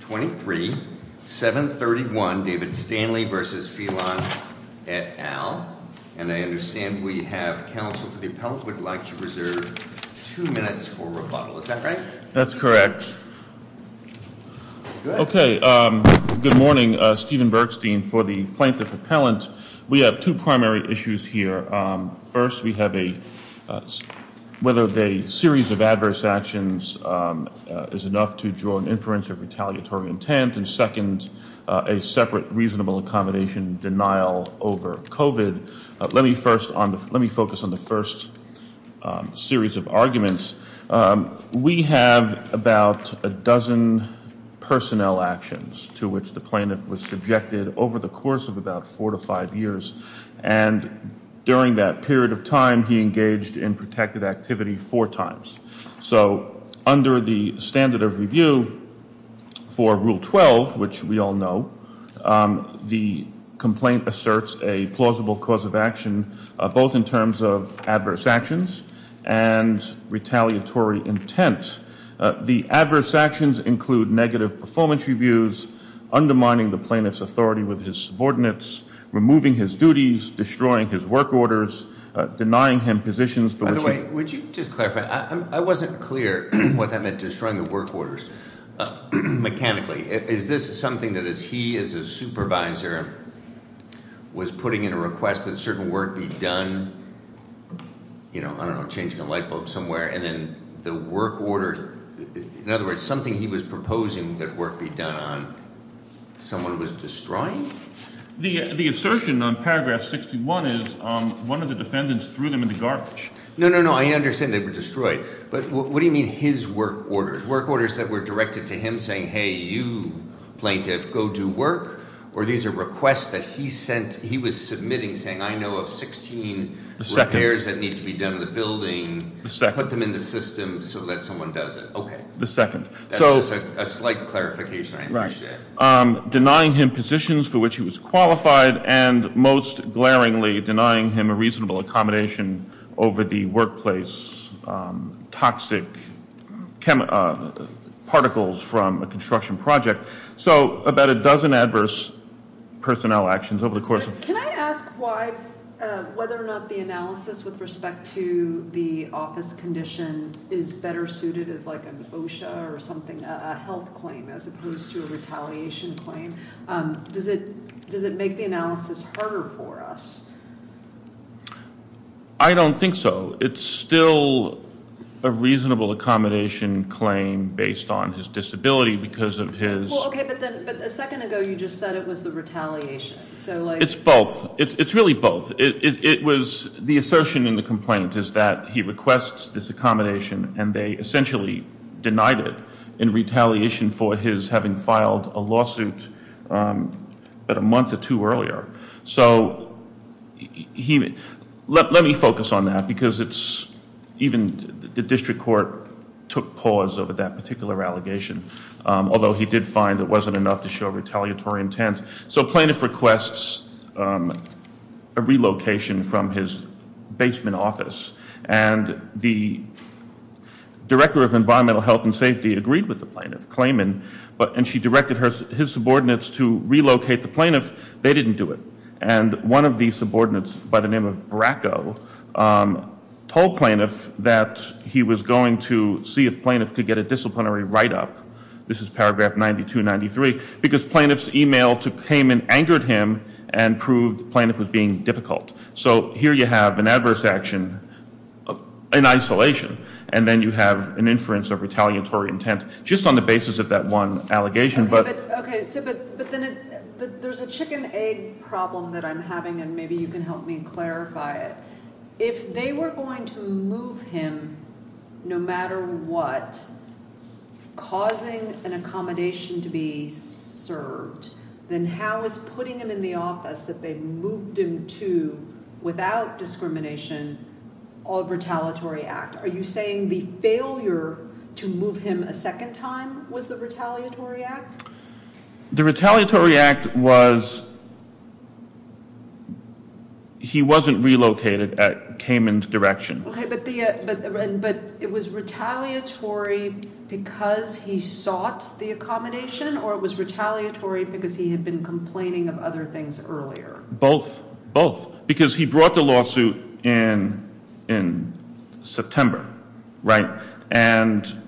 23, 731 David Stanley v. Phelan et al. And I understand we have counsel for the appellant would like to reserve two minutes for rebuttal. Is that right? That's correct. Okay. Good morning. Stephen Bergstein for the plaintiff appellant. We have two primary issues here. First, we have a whether the series of adverse actions is enough to draw an inference of retaliatory intent and second, a separate reasonable accommodation denial over COVID. Let me first let me focus on the first series of arguments. We have about a dozen personnel actions to which the plaintiff was subjected over the course of about four to five years. And during that period of time, he engaged in protective activity four times. So under the standard of review for Rule 12, which we all know, the complaint asserts a plausible cause of action, both in terms of adverse actions and retaliatory intent. The adverse actions include negative performance reviews, undermining the plaintiff's authority with his subordinates, removing his duties, destroying his work orders, denying him positions. By the way, would you just clarify, I wasn't clear what that meant, destroying the work orders. Mechanically, is this something that he as a supervisor was putting in a request that certain work be done? I don't know, changing a light bulb somewhere, and then the work order. In other words, something he was proposing that work be done on, someone was destroying? The assertion on paragraph 61 is one of the defendants threw them in the garbage. No, no, no, I understand they were destroyed. But what do you mean his work orders? Work orders that were directed to him saying, hey, you, plaintiff, go do work? Or these are requests that he sent, he was submitting, saying I know of 16- The second. Repairs that need to be done in the building. The second. Put them in the system so that someone does it. Okay. The second. That's a slight clarification, I appreciate it. Denying him positions for which he was qualified and most glaringly denying him a reasonable accommodation over the workplace toxic particles from a construction project. So about a dozen adverse personnel actions over the course of- Can I ask why, whether or not the analysis with respect to the office condition is better suited as like an OSHA or something, a health claim as opposed to a retaliation claim? Does it make the analysis harder for us? I don't think so. It's still a reasonable accommodation claim based on his disability because of his- Okay, but a second ago you just said it was the retaliation. It's both. It's really both. It was the assertion in the complaint is that he requests this accommodation and they essentially denied it in retaliation for his having filed a lawsuit about a month or two earlier. So let me focus on that because it's even the district court took pause over that particular allegation. Although he did find it wasn't enough to show retaliatory intent. So plaintiff requests a relocation from his basement office and the director of environmental health and safety agreed with the plaintiff claiming and she directed his subordinates to relocate the plaintiff. They didn't do it. And one of the subordinates by the name of Bracco told plaintiff that he was going to see if plaintiff could get a disciplinary write up. This is paragraph 9293 because plaintiff's email came and angered him and proved plaintiff was being difficult. So here you have an adverse action in isolation and then you have an inference of retaliatory intent just on the basis of that one allegation. But then there's a chicken egg problem that I'm having and maybe you can help me clarify it. If they were going to move him, no matter what, causing an accommodation to be served, then how is putting him in the office that they moved him to without discrimination or retaliatory act? Are you saying the failure to move him a second time was the retaliatory act? The retaliatory act was he wasn't relocated at Cayman direction. But it was retaliatory because he sought the accommodation or it was retaliatory because he had been complaining of other things earlier. Both because he brought the lawsuit in September, right? And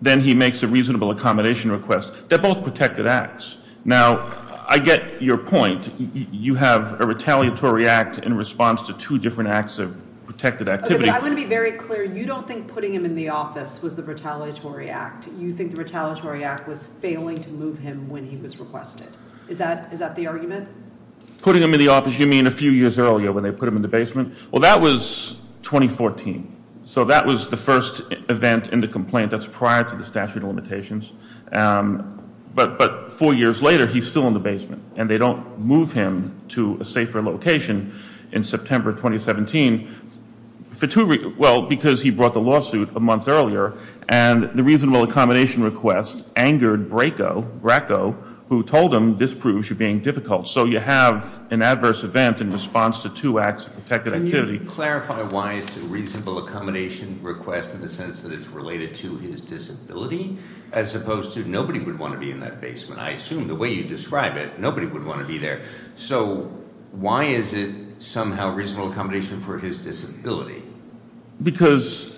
then he makes a reasonable accommodation request. They're both protected acts. Now, I get your point. You have a retaliatory act in response to two different acts of protected activity. I want to be very clear. You don't think putting him in the office was the retaliatory act. You think the retaliatory act was failing to move him when he was requested. Is that the argument? Putting him in the office, you mean a few years earlier when they put him in the basement? Well, that was 2014. So that was the first event in the complaint that's prior to the statute of limitations. But four years later, he's still in the basement. And they don't move him to a safer location in September 2017. Well, because he brought the lawsuit a month earlier. And the reasonable accommodation request angered Bracco, who told him this proves you're being difficult. So you have an adverse event in response to two acts of protected activity. Can you clarify why it's a reasonable accommodation request in the sense that it's related to his disability? As opposed to nobody would want to be in that basement. I assume the way you describe it, nobody would want to be there. So why is it somehow reasonable accommodation for his disability? Because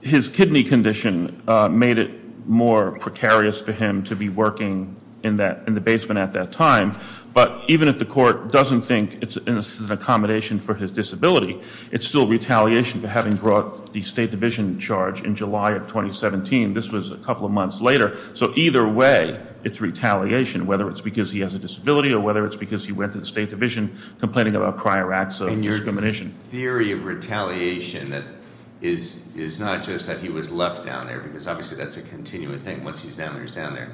his kidney condition made it more precarious for him to be working in the basement at that time. But even if the court doesn't think it's an accommodation for his disability, it's still retaliation for having brought the state division charge in July of 2017. This was a couple of months later. So either way, it's retaliation, whether it's because he has a disability or whether it's because he went to the state division complaining about prior acts of discrimination. And your theory of retaliation is not just that he was left down there, because obviously that's a continuing thing once he's down there, he's down there.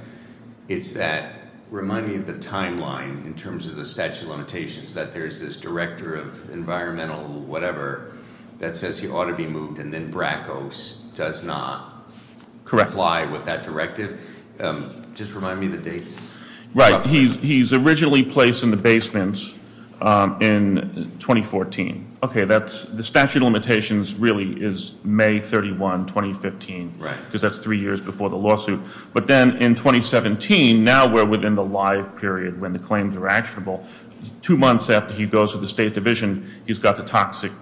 It's that, remind me of the timeline in terms of the statute of limitations, that there's this director of environmental whatever that says he ought to be moved and then Brackos does not comply with that directive. Just remind me the dates. Right, he's originally placed in the basement in 2014. Okay, the statute of limitations really is May 31, 2015, because that's three years before the lawsuit. But then in 2017, now we're within the live period when the claims are actionable. Two months after he goes to the state division, he's got the toxic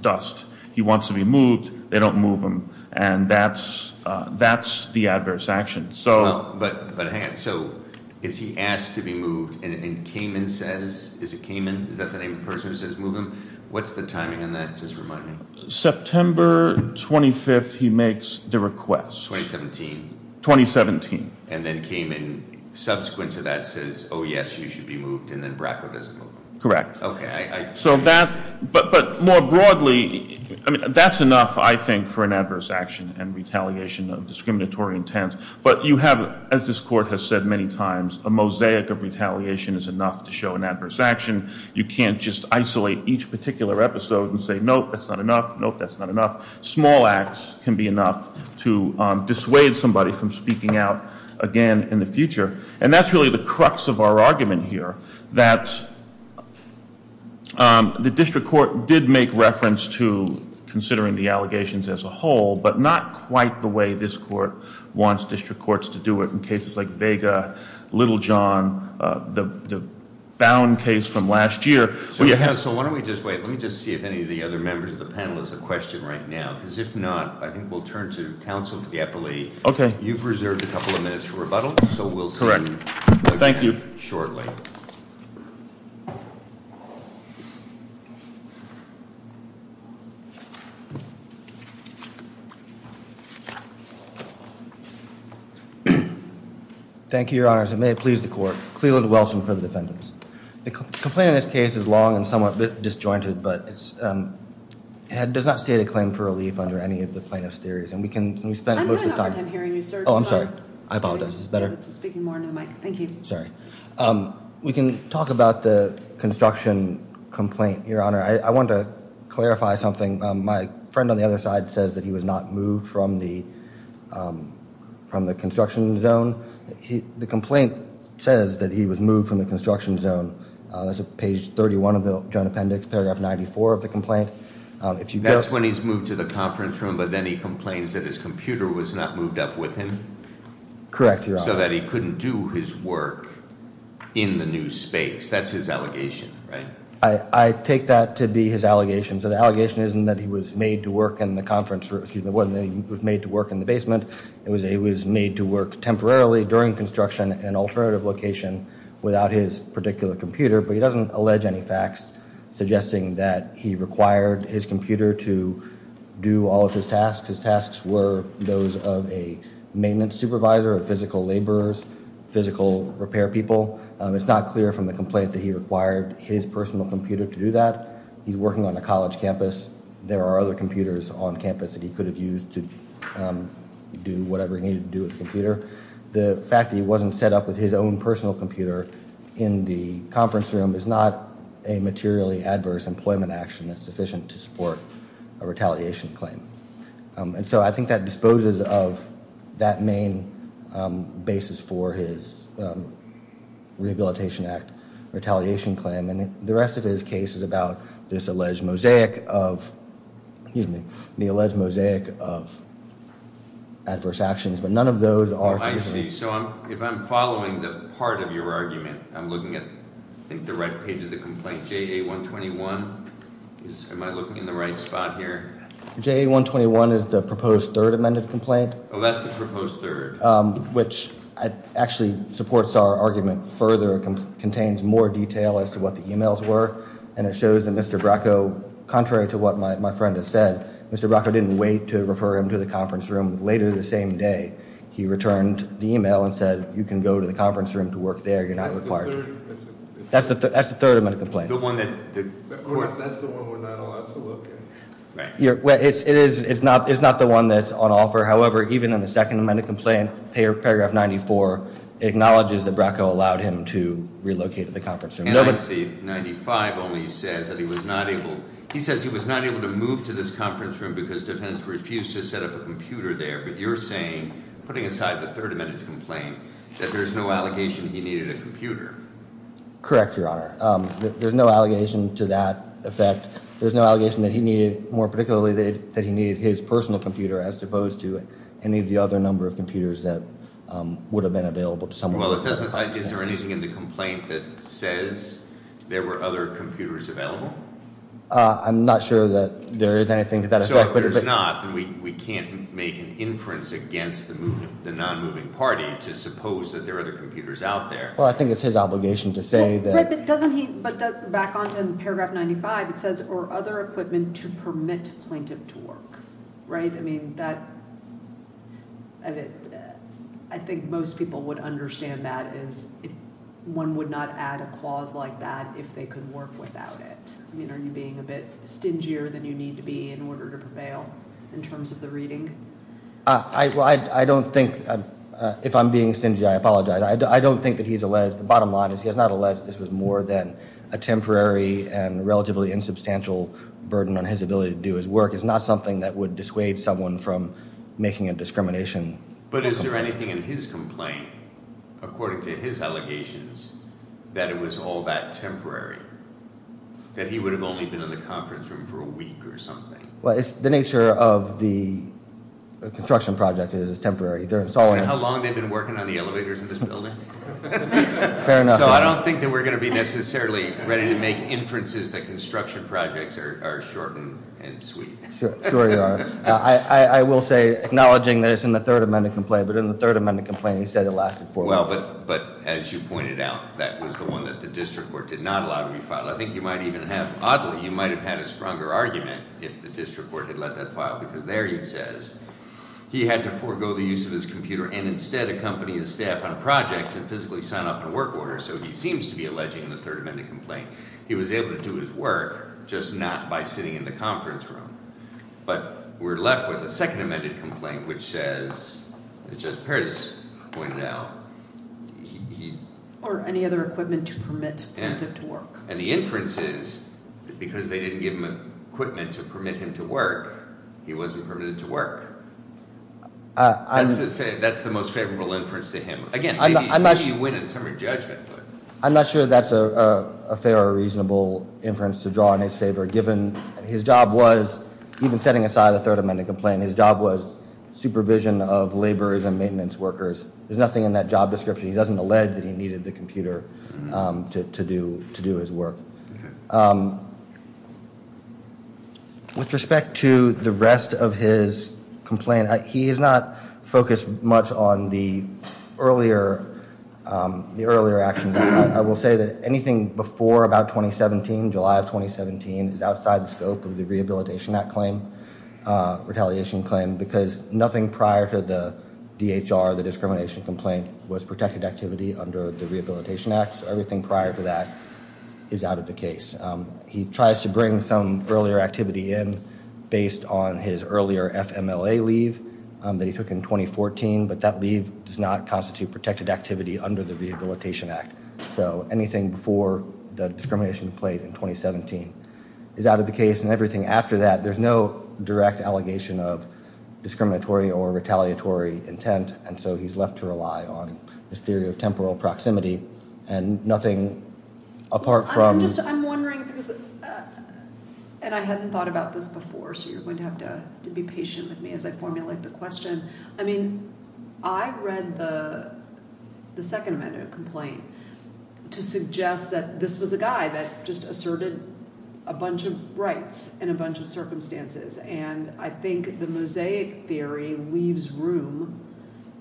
dust. He wants to be moved. They don't move him. And that's the adverse action. But hang on. So is he asked to be moved and Kamin says, is it Kamin? Is that the name of the person who says move him? What's the timing on that? Just remind me. September 25th, he makes the request. 2017. 2017. And then Kamin, subsequent to that, says, oh, yes, you should be moved, and then Bracko doesn't move him. Correct. But more broadly, that's enough, I think, for an adverse action and retaliation of discriminatory intent. But you have, as this court has said many times, a mosaic of retaliation is enough to show an adverse action. You can't just isolate each particular episode and say, nope, that's not enough. Nope, that's not enough. Small acts can be enough to dissuade somebody from speaking out again in the future. And that's really the crux of our argument here. That the district court did make reference to considering the allegations as a whole, but not quite the way this court wants district courts to do it in cases like Vega, Little John, the Bound case from last year. So, counsel, why don't we just wait. Let me just see if any of the other members of the panel has a question right now. Because if not, I think we'll turn to counsel for the appellee. Okay. All right. You've reserved a couple of minutes for rebuttal, so we'll see you shortly. Thank you. Thank you, your honors. And may it please the court. Cleland Wilson for the defendants. The complaint in this case is long and somewhat disjointed, but it does not state a claim for relief under any of the plaintiff's theories. I'm having a hard time hearing you, sir. Oh, I'm sorry. I apologize. This is better. Speaking more into the mic. Thank you. Sorry. We can talk about the construction complaint, your honor. I want to clarify something. My friend on the other side says that he was not moved from the construction zone. The complaint says that he was moved from the construction zone. That's page 31 of the joint appendix, paragraph 94 of the complaint. That's when he's moved to the conference room, but then he complains that his computer was not moved up with him? Correct, your honor. So that he couldn't do his work in the new space. That's his allegation, right? I take that to be his allegation. So the allegation isn't that he was made to work in the conference room. It wasn't that he was made to work in the basement. It was that he was made to work temporarily during construction in an alternative location without his particular computer. But he doesn't allege any facts suggesting that he required his computer to do all of his tasks. His tasks were those of a maintenance supervisor, physical laborers, physical repair people. It's not clear from the complaint that he required his personal computer to do that. He's working on a college campus. There are other computers on campus that he could have used to do whatever he needed to do with the computer. The fact that he wasn't set up with his own personal computer in the conference room is not a materially adverse employment action that's sufficient to support a retaliation claim. And so I think that disposes of that main basis for his Rehabilitation Act retaliation claim. And the rest of his case is about this alleged mosaic of, excuse me, the alleged mosaic of adverse actions. But none of those are sufficient. So if I'm following the part of your argument, I'm looking at the right page of the complaint, JA121. Am I looking in the right spot here? JA121 is the proposed third amended complaint. Oh, that's the proposed third. Which actually supports our argument further, contains more detail as to what the emails were. And it shows that Mr. Bracco, contrary to what my friend has said, Mr. Bracco didn't wait to refer him to the conference room. Later the same day, he returned the email and said, you can go to the conference room to work there, you're not required. That's the third amended complaint. The one that, that's the one we're not allowed to look at. It's not the one that's on offer. However, even in the second amended complaint, paragraph 94, it acknowledges that Bracco allowed him to relocate to the conference room. NIC 95 only says that he was not able. He says he was not able to move to this conference room because defendants refused to set up a computer there. But you're saying, putting aside the third amended complaint, that there's no allegation he needed a computer. Correct, Your Honor. There's no allegation to that effect. There's no allegation that he needed, more particularly, that he needed his personal computer as opposed to any of the other number of computers that would have been available to someone. Well, it doesn't, is there anything in the complaint that says there were other computers available? I'm not sure that there is anything to that effect. So if there's not, then we can't make an inference against the non-moving party to suppose that there are other computers out there. Well, I think it's his obligation to say that. But doesn't he, back on to paragraph 95, it says, or other equipment to permit plaintiff to work, right? I mean, that, I think most people would understand that as one would not add a clause like that if they could work without it. I mean, are you being a bit stingier than you need to be in order to prevail in terms of the reading? I don't think, if I'm being stingy, I apologize. I don't think that he's alleged, the bottom line is he has not alleged that this was more than a temporary and relatively insubstantial burden on his ability to do his work. It's not something that would dissuade someone from making a discrimination. But is there anything in his complaint, according to his allegations, that it was all that temporary? That he would have only been in the conference room for a week or something? Well, it's the nature of the construction project is it's temporary. Do you know how long they've been working on the elevators in this building? Fair enough. So I don't think that we're going to be necessarily ready to make inferences that construction projects are short and sweet. Sure you are. I will say, acknowledging that it's in the third amendment complaint, but in the third amendment complaint he said it lasted four months. Well, but as you pointed out, that was the one that the district court did not allow to be filed. I think you might even have, oddly, you might have had a stronger argument if the district court had let that file. Because there he says, he had to forego the use of his computer and instead accompany his staff on projects and physically sign off on work orders. So he seems to be alleging the third amendment complaint. He was able to do his work, just not by sitting in the conference room. But we're left with a second amendment complaint, which says, as Justice Perez pointed out, he... Or any other equipment to permit him to work. And the inference is, because they didn't give him equipment to permit him to work, he wasn't permitted to work. That's the most favorable inference to him. Again, maybe you win in summary judgment. I'm not sure that's a fair or reasonable inference to draw in his favor, given his job was, even setting aside the third amendment complaint, his job was supervision of laborers and maintenance workers. There's nothing in that job description. He doesn't allege that he needed the computer to do his work. With respect to the rest of his complaint, he's not focused much on the earlier actions. I will say that anything before about 2017, July of 2017, is outside the scope of the Rehabilitation Act claim, retaliation claim, because nothing prior to the DHR, the discrimination complaint, was protected activity under the Rehabilitation Act. So everything prior to that is out of the case. He tries to bring some earlier activity in based on his earlier FMLA leave that he took in 2014, but that leave does not constitute protected activity under the Rehabilitation Act. So anything before the discrimination complaint in 2017 is out of the case, and everything after that. There's no direct allegation of discriminatory or retaliatory intent, and so he's left to rely on this theory of temporal proximity, and nothing apart from— I'm just—I'm wondering, because—and I hadn't thought about this before, so you're going to have to be patient with me as I formulate the question. I mean, I read the second amendment complaint to suggest that this was a guy that just asserted a bunch of rights in a bunch of circumstances, and I think the mosaic theory leaves room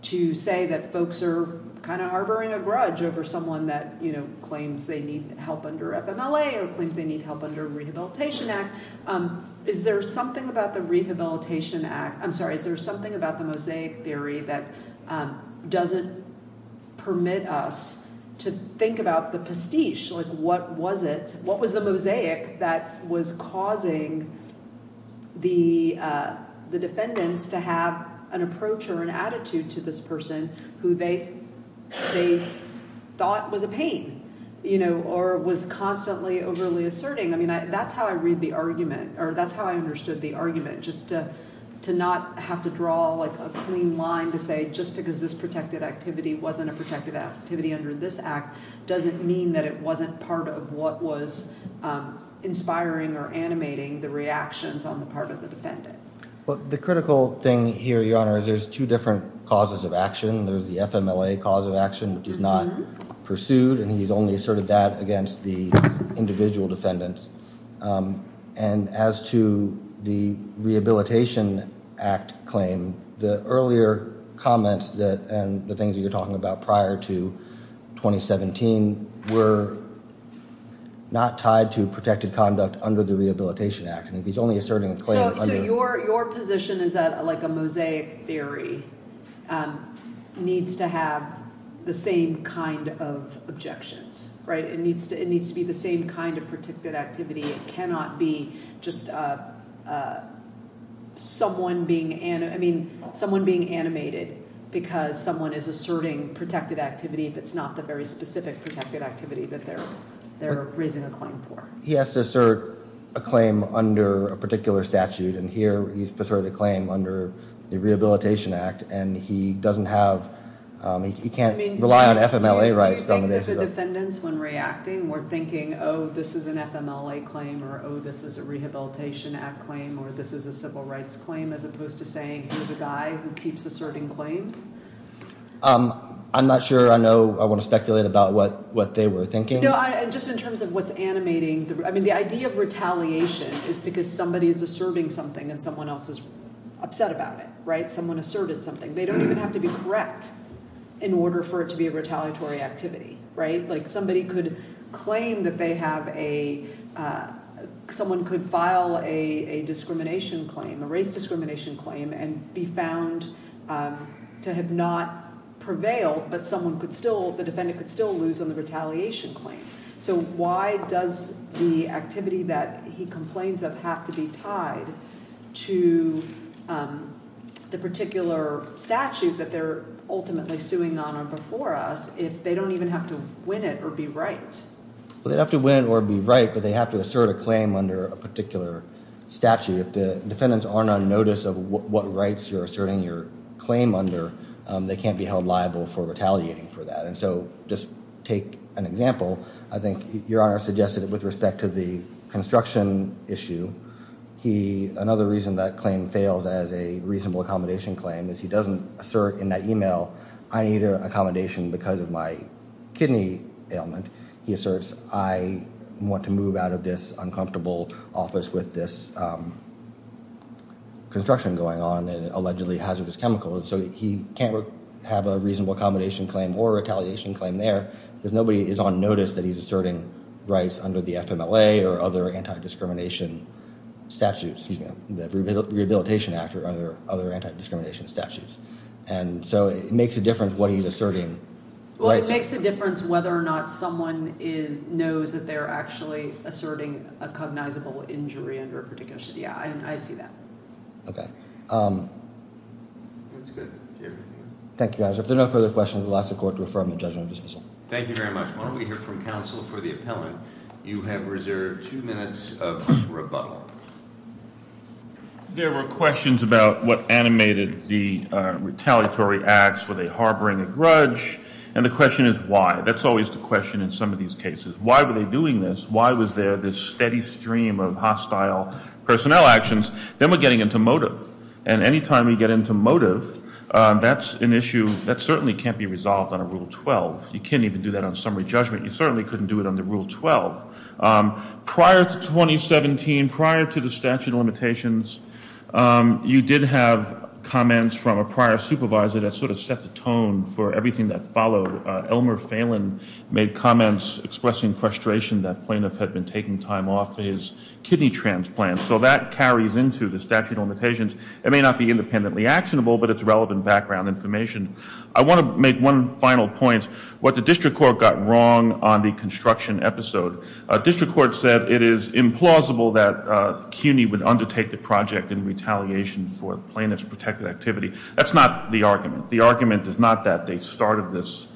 to say that folks are kind of harboring a grudge over someone that claims they need help under FMLA or claims they need help under the Rehabilitation Act. Is there something about the Rehabilitation Act—I'm sorry. Is there something about the mosaic theory that doesn't permit us to think about the pastiche? Like, what was it—what was the mosaic that was causing the defendants to have an approach or an attitude to this person who they thought was a pain, you know, or was constantly overly asserting? I mean, that's how I read the argument, or that's how I understood the argument, just to not have to draw, like, a clean line to say just because this protected activity wasn't a protected activity under this Act doesn't mean that it wasn't part of what was inspiring or animating the reactions on the part of the defendant. Well, the critical thing here, Your Honor, is there's two different causes of action. There's the FMLA cause of action, which is not pursued, and he's only asserted that against the individual defendants. And as to the Rehabilitation Act claim, the earlier comments and the things that you're talking about prior to 2017 were not tied to protected conduct under the Rehabilitation Act. So your position is that, like, a mosaic theory needs to have the same kind of objections, right? It needs to be the same kind of protected activity. It cannot be just someone being—I mean, someone being animated because someone is asserting protected activity that's not the very specific protected activity that they're raising a claim for. He has to assert a claim under a particular statute, and here he's asserted a claim under the Rehabilitation Act, and he doesn't have—he can't rely on FMLA rights on the basis of— I mean, do you think that the defendants, when reacting, were thinking, oh, this is an FMLA claim, or oh, this is a Rehabilitation Act claim, or this is a civil rights claim, as opposed to saying, here's a guy who keeps asserting claims? I'm not sure. I know—I wouldn't speculate about what they were thinking. No, and just in terms of what's animating—I mean, the idea of retaliation is because somebody is asserting something and someone else is upset about it, right? Someone asserted something. They don't even have to be correct in order for it to be a retaliatory activity, right? Like, somebody could claim that they have a—someone could file a discrimination claim, a race discrimination claim, and be found to have not prevailed, but someone could still—the defendant could still lose on the retaliation claim. So why does the activity that he complains of have to be tied to the particular statute that they're ultimately suing on or before us if they don't even have to win it or be right? Well, they don't have to win it or be right, but they have to assert a claim under a particular statute. If the defendants aren't on notice of what rights you're asserting your claim under, they can't be held liable for retaliating for that. And so just take an example. I think Your Honor suggested with respect to the construction issue, another reason that claim fails as a reasonable accommodation claim is he doesn't assert in that email, I need accommodation because of my kidney ailment. He asserts, I want to move out of this uncomfortable office with this construction going on and allegedly hazardous chemicals. So he can't have a reasonable accommodation claim or retaliation claim there because nobody is on notice that he's asserting rights under the FMLA or other anti-discrimination statutes, excuse me, the Rehabilitation Act or other anti-discrimination statutes. And so it makes a difference what he's asserting. Well, it makes a difference whether or not someone knows that they're actually asserting a cognizable injury under a particular statute. Yeah, I see that. Okay. That's good. Thank you, Your Honor. If there are no further questions, we'll ask the court to refer them to the judge on dismissal. Thank you very much. Why don't we hear from counsel for the appellant. You have reserved two minutes of rebuttal. There were questions about what animated the retaliatory acts. Were they harboring a grudge? And the question is why. That's always the question in some of these cases. Why were they doing this? Why was there this steady stream of hostile personnel actions? Then we're getting into motive. And any time we get into motive, that's an issue that certainly can't be resolved under Rule 12. You can't even do that on summary judgment. You certainly couldn't do it under Rule 12. Prior to 2017, prior to the statute of limitations, you did have comments from a prior supervisor that sort of set the tone for everything that followed. Elmer Phelan made comments expressing frustration that plaintiff had been taking time off for his kidney transplant. So that carries into the statute of limitations. It may not be independently actionable, but it's relevant background information. I want to make one final point. What the district court got wrong on the construction episode, district court said it is implausible that CUNY would undertake the project in retaliation for plaintiff's protected activity. That's not the argument. The argument is not that they started this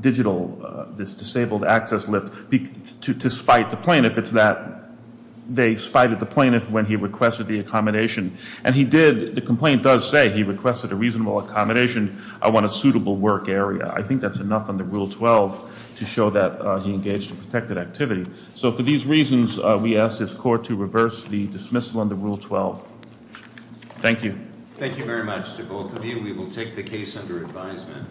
digital, this disabled access lift to spite the plaintiff. If it's that they spited the plaintiff when he requested the accommodation. And he did, the complaint does say he requested a reasonable accommodation. I want a suitable work area. I think that's enough under Rule 12 to show that he engaged in protected activity. So for these reasons, we ask this court to reverse the dismissal under Rule 12. Thank you. Thank you very much to both of you. We will take the case under advisement.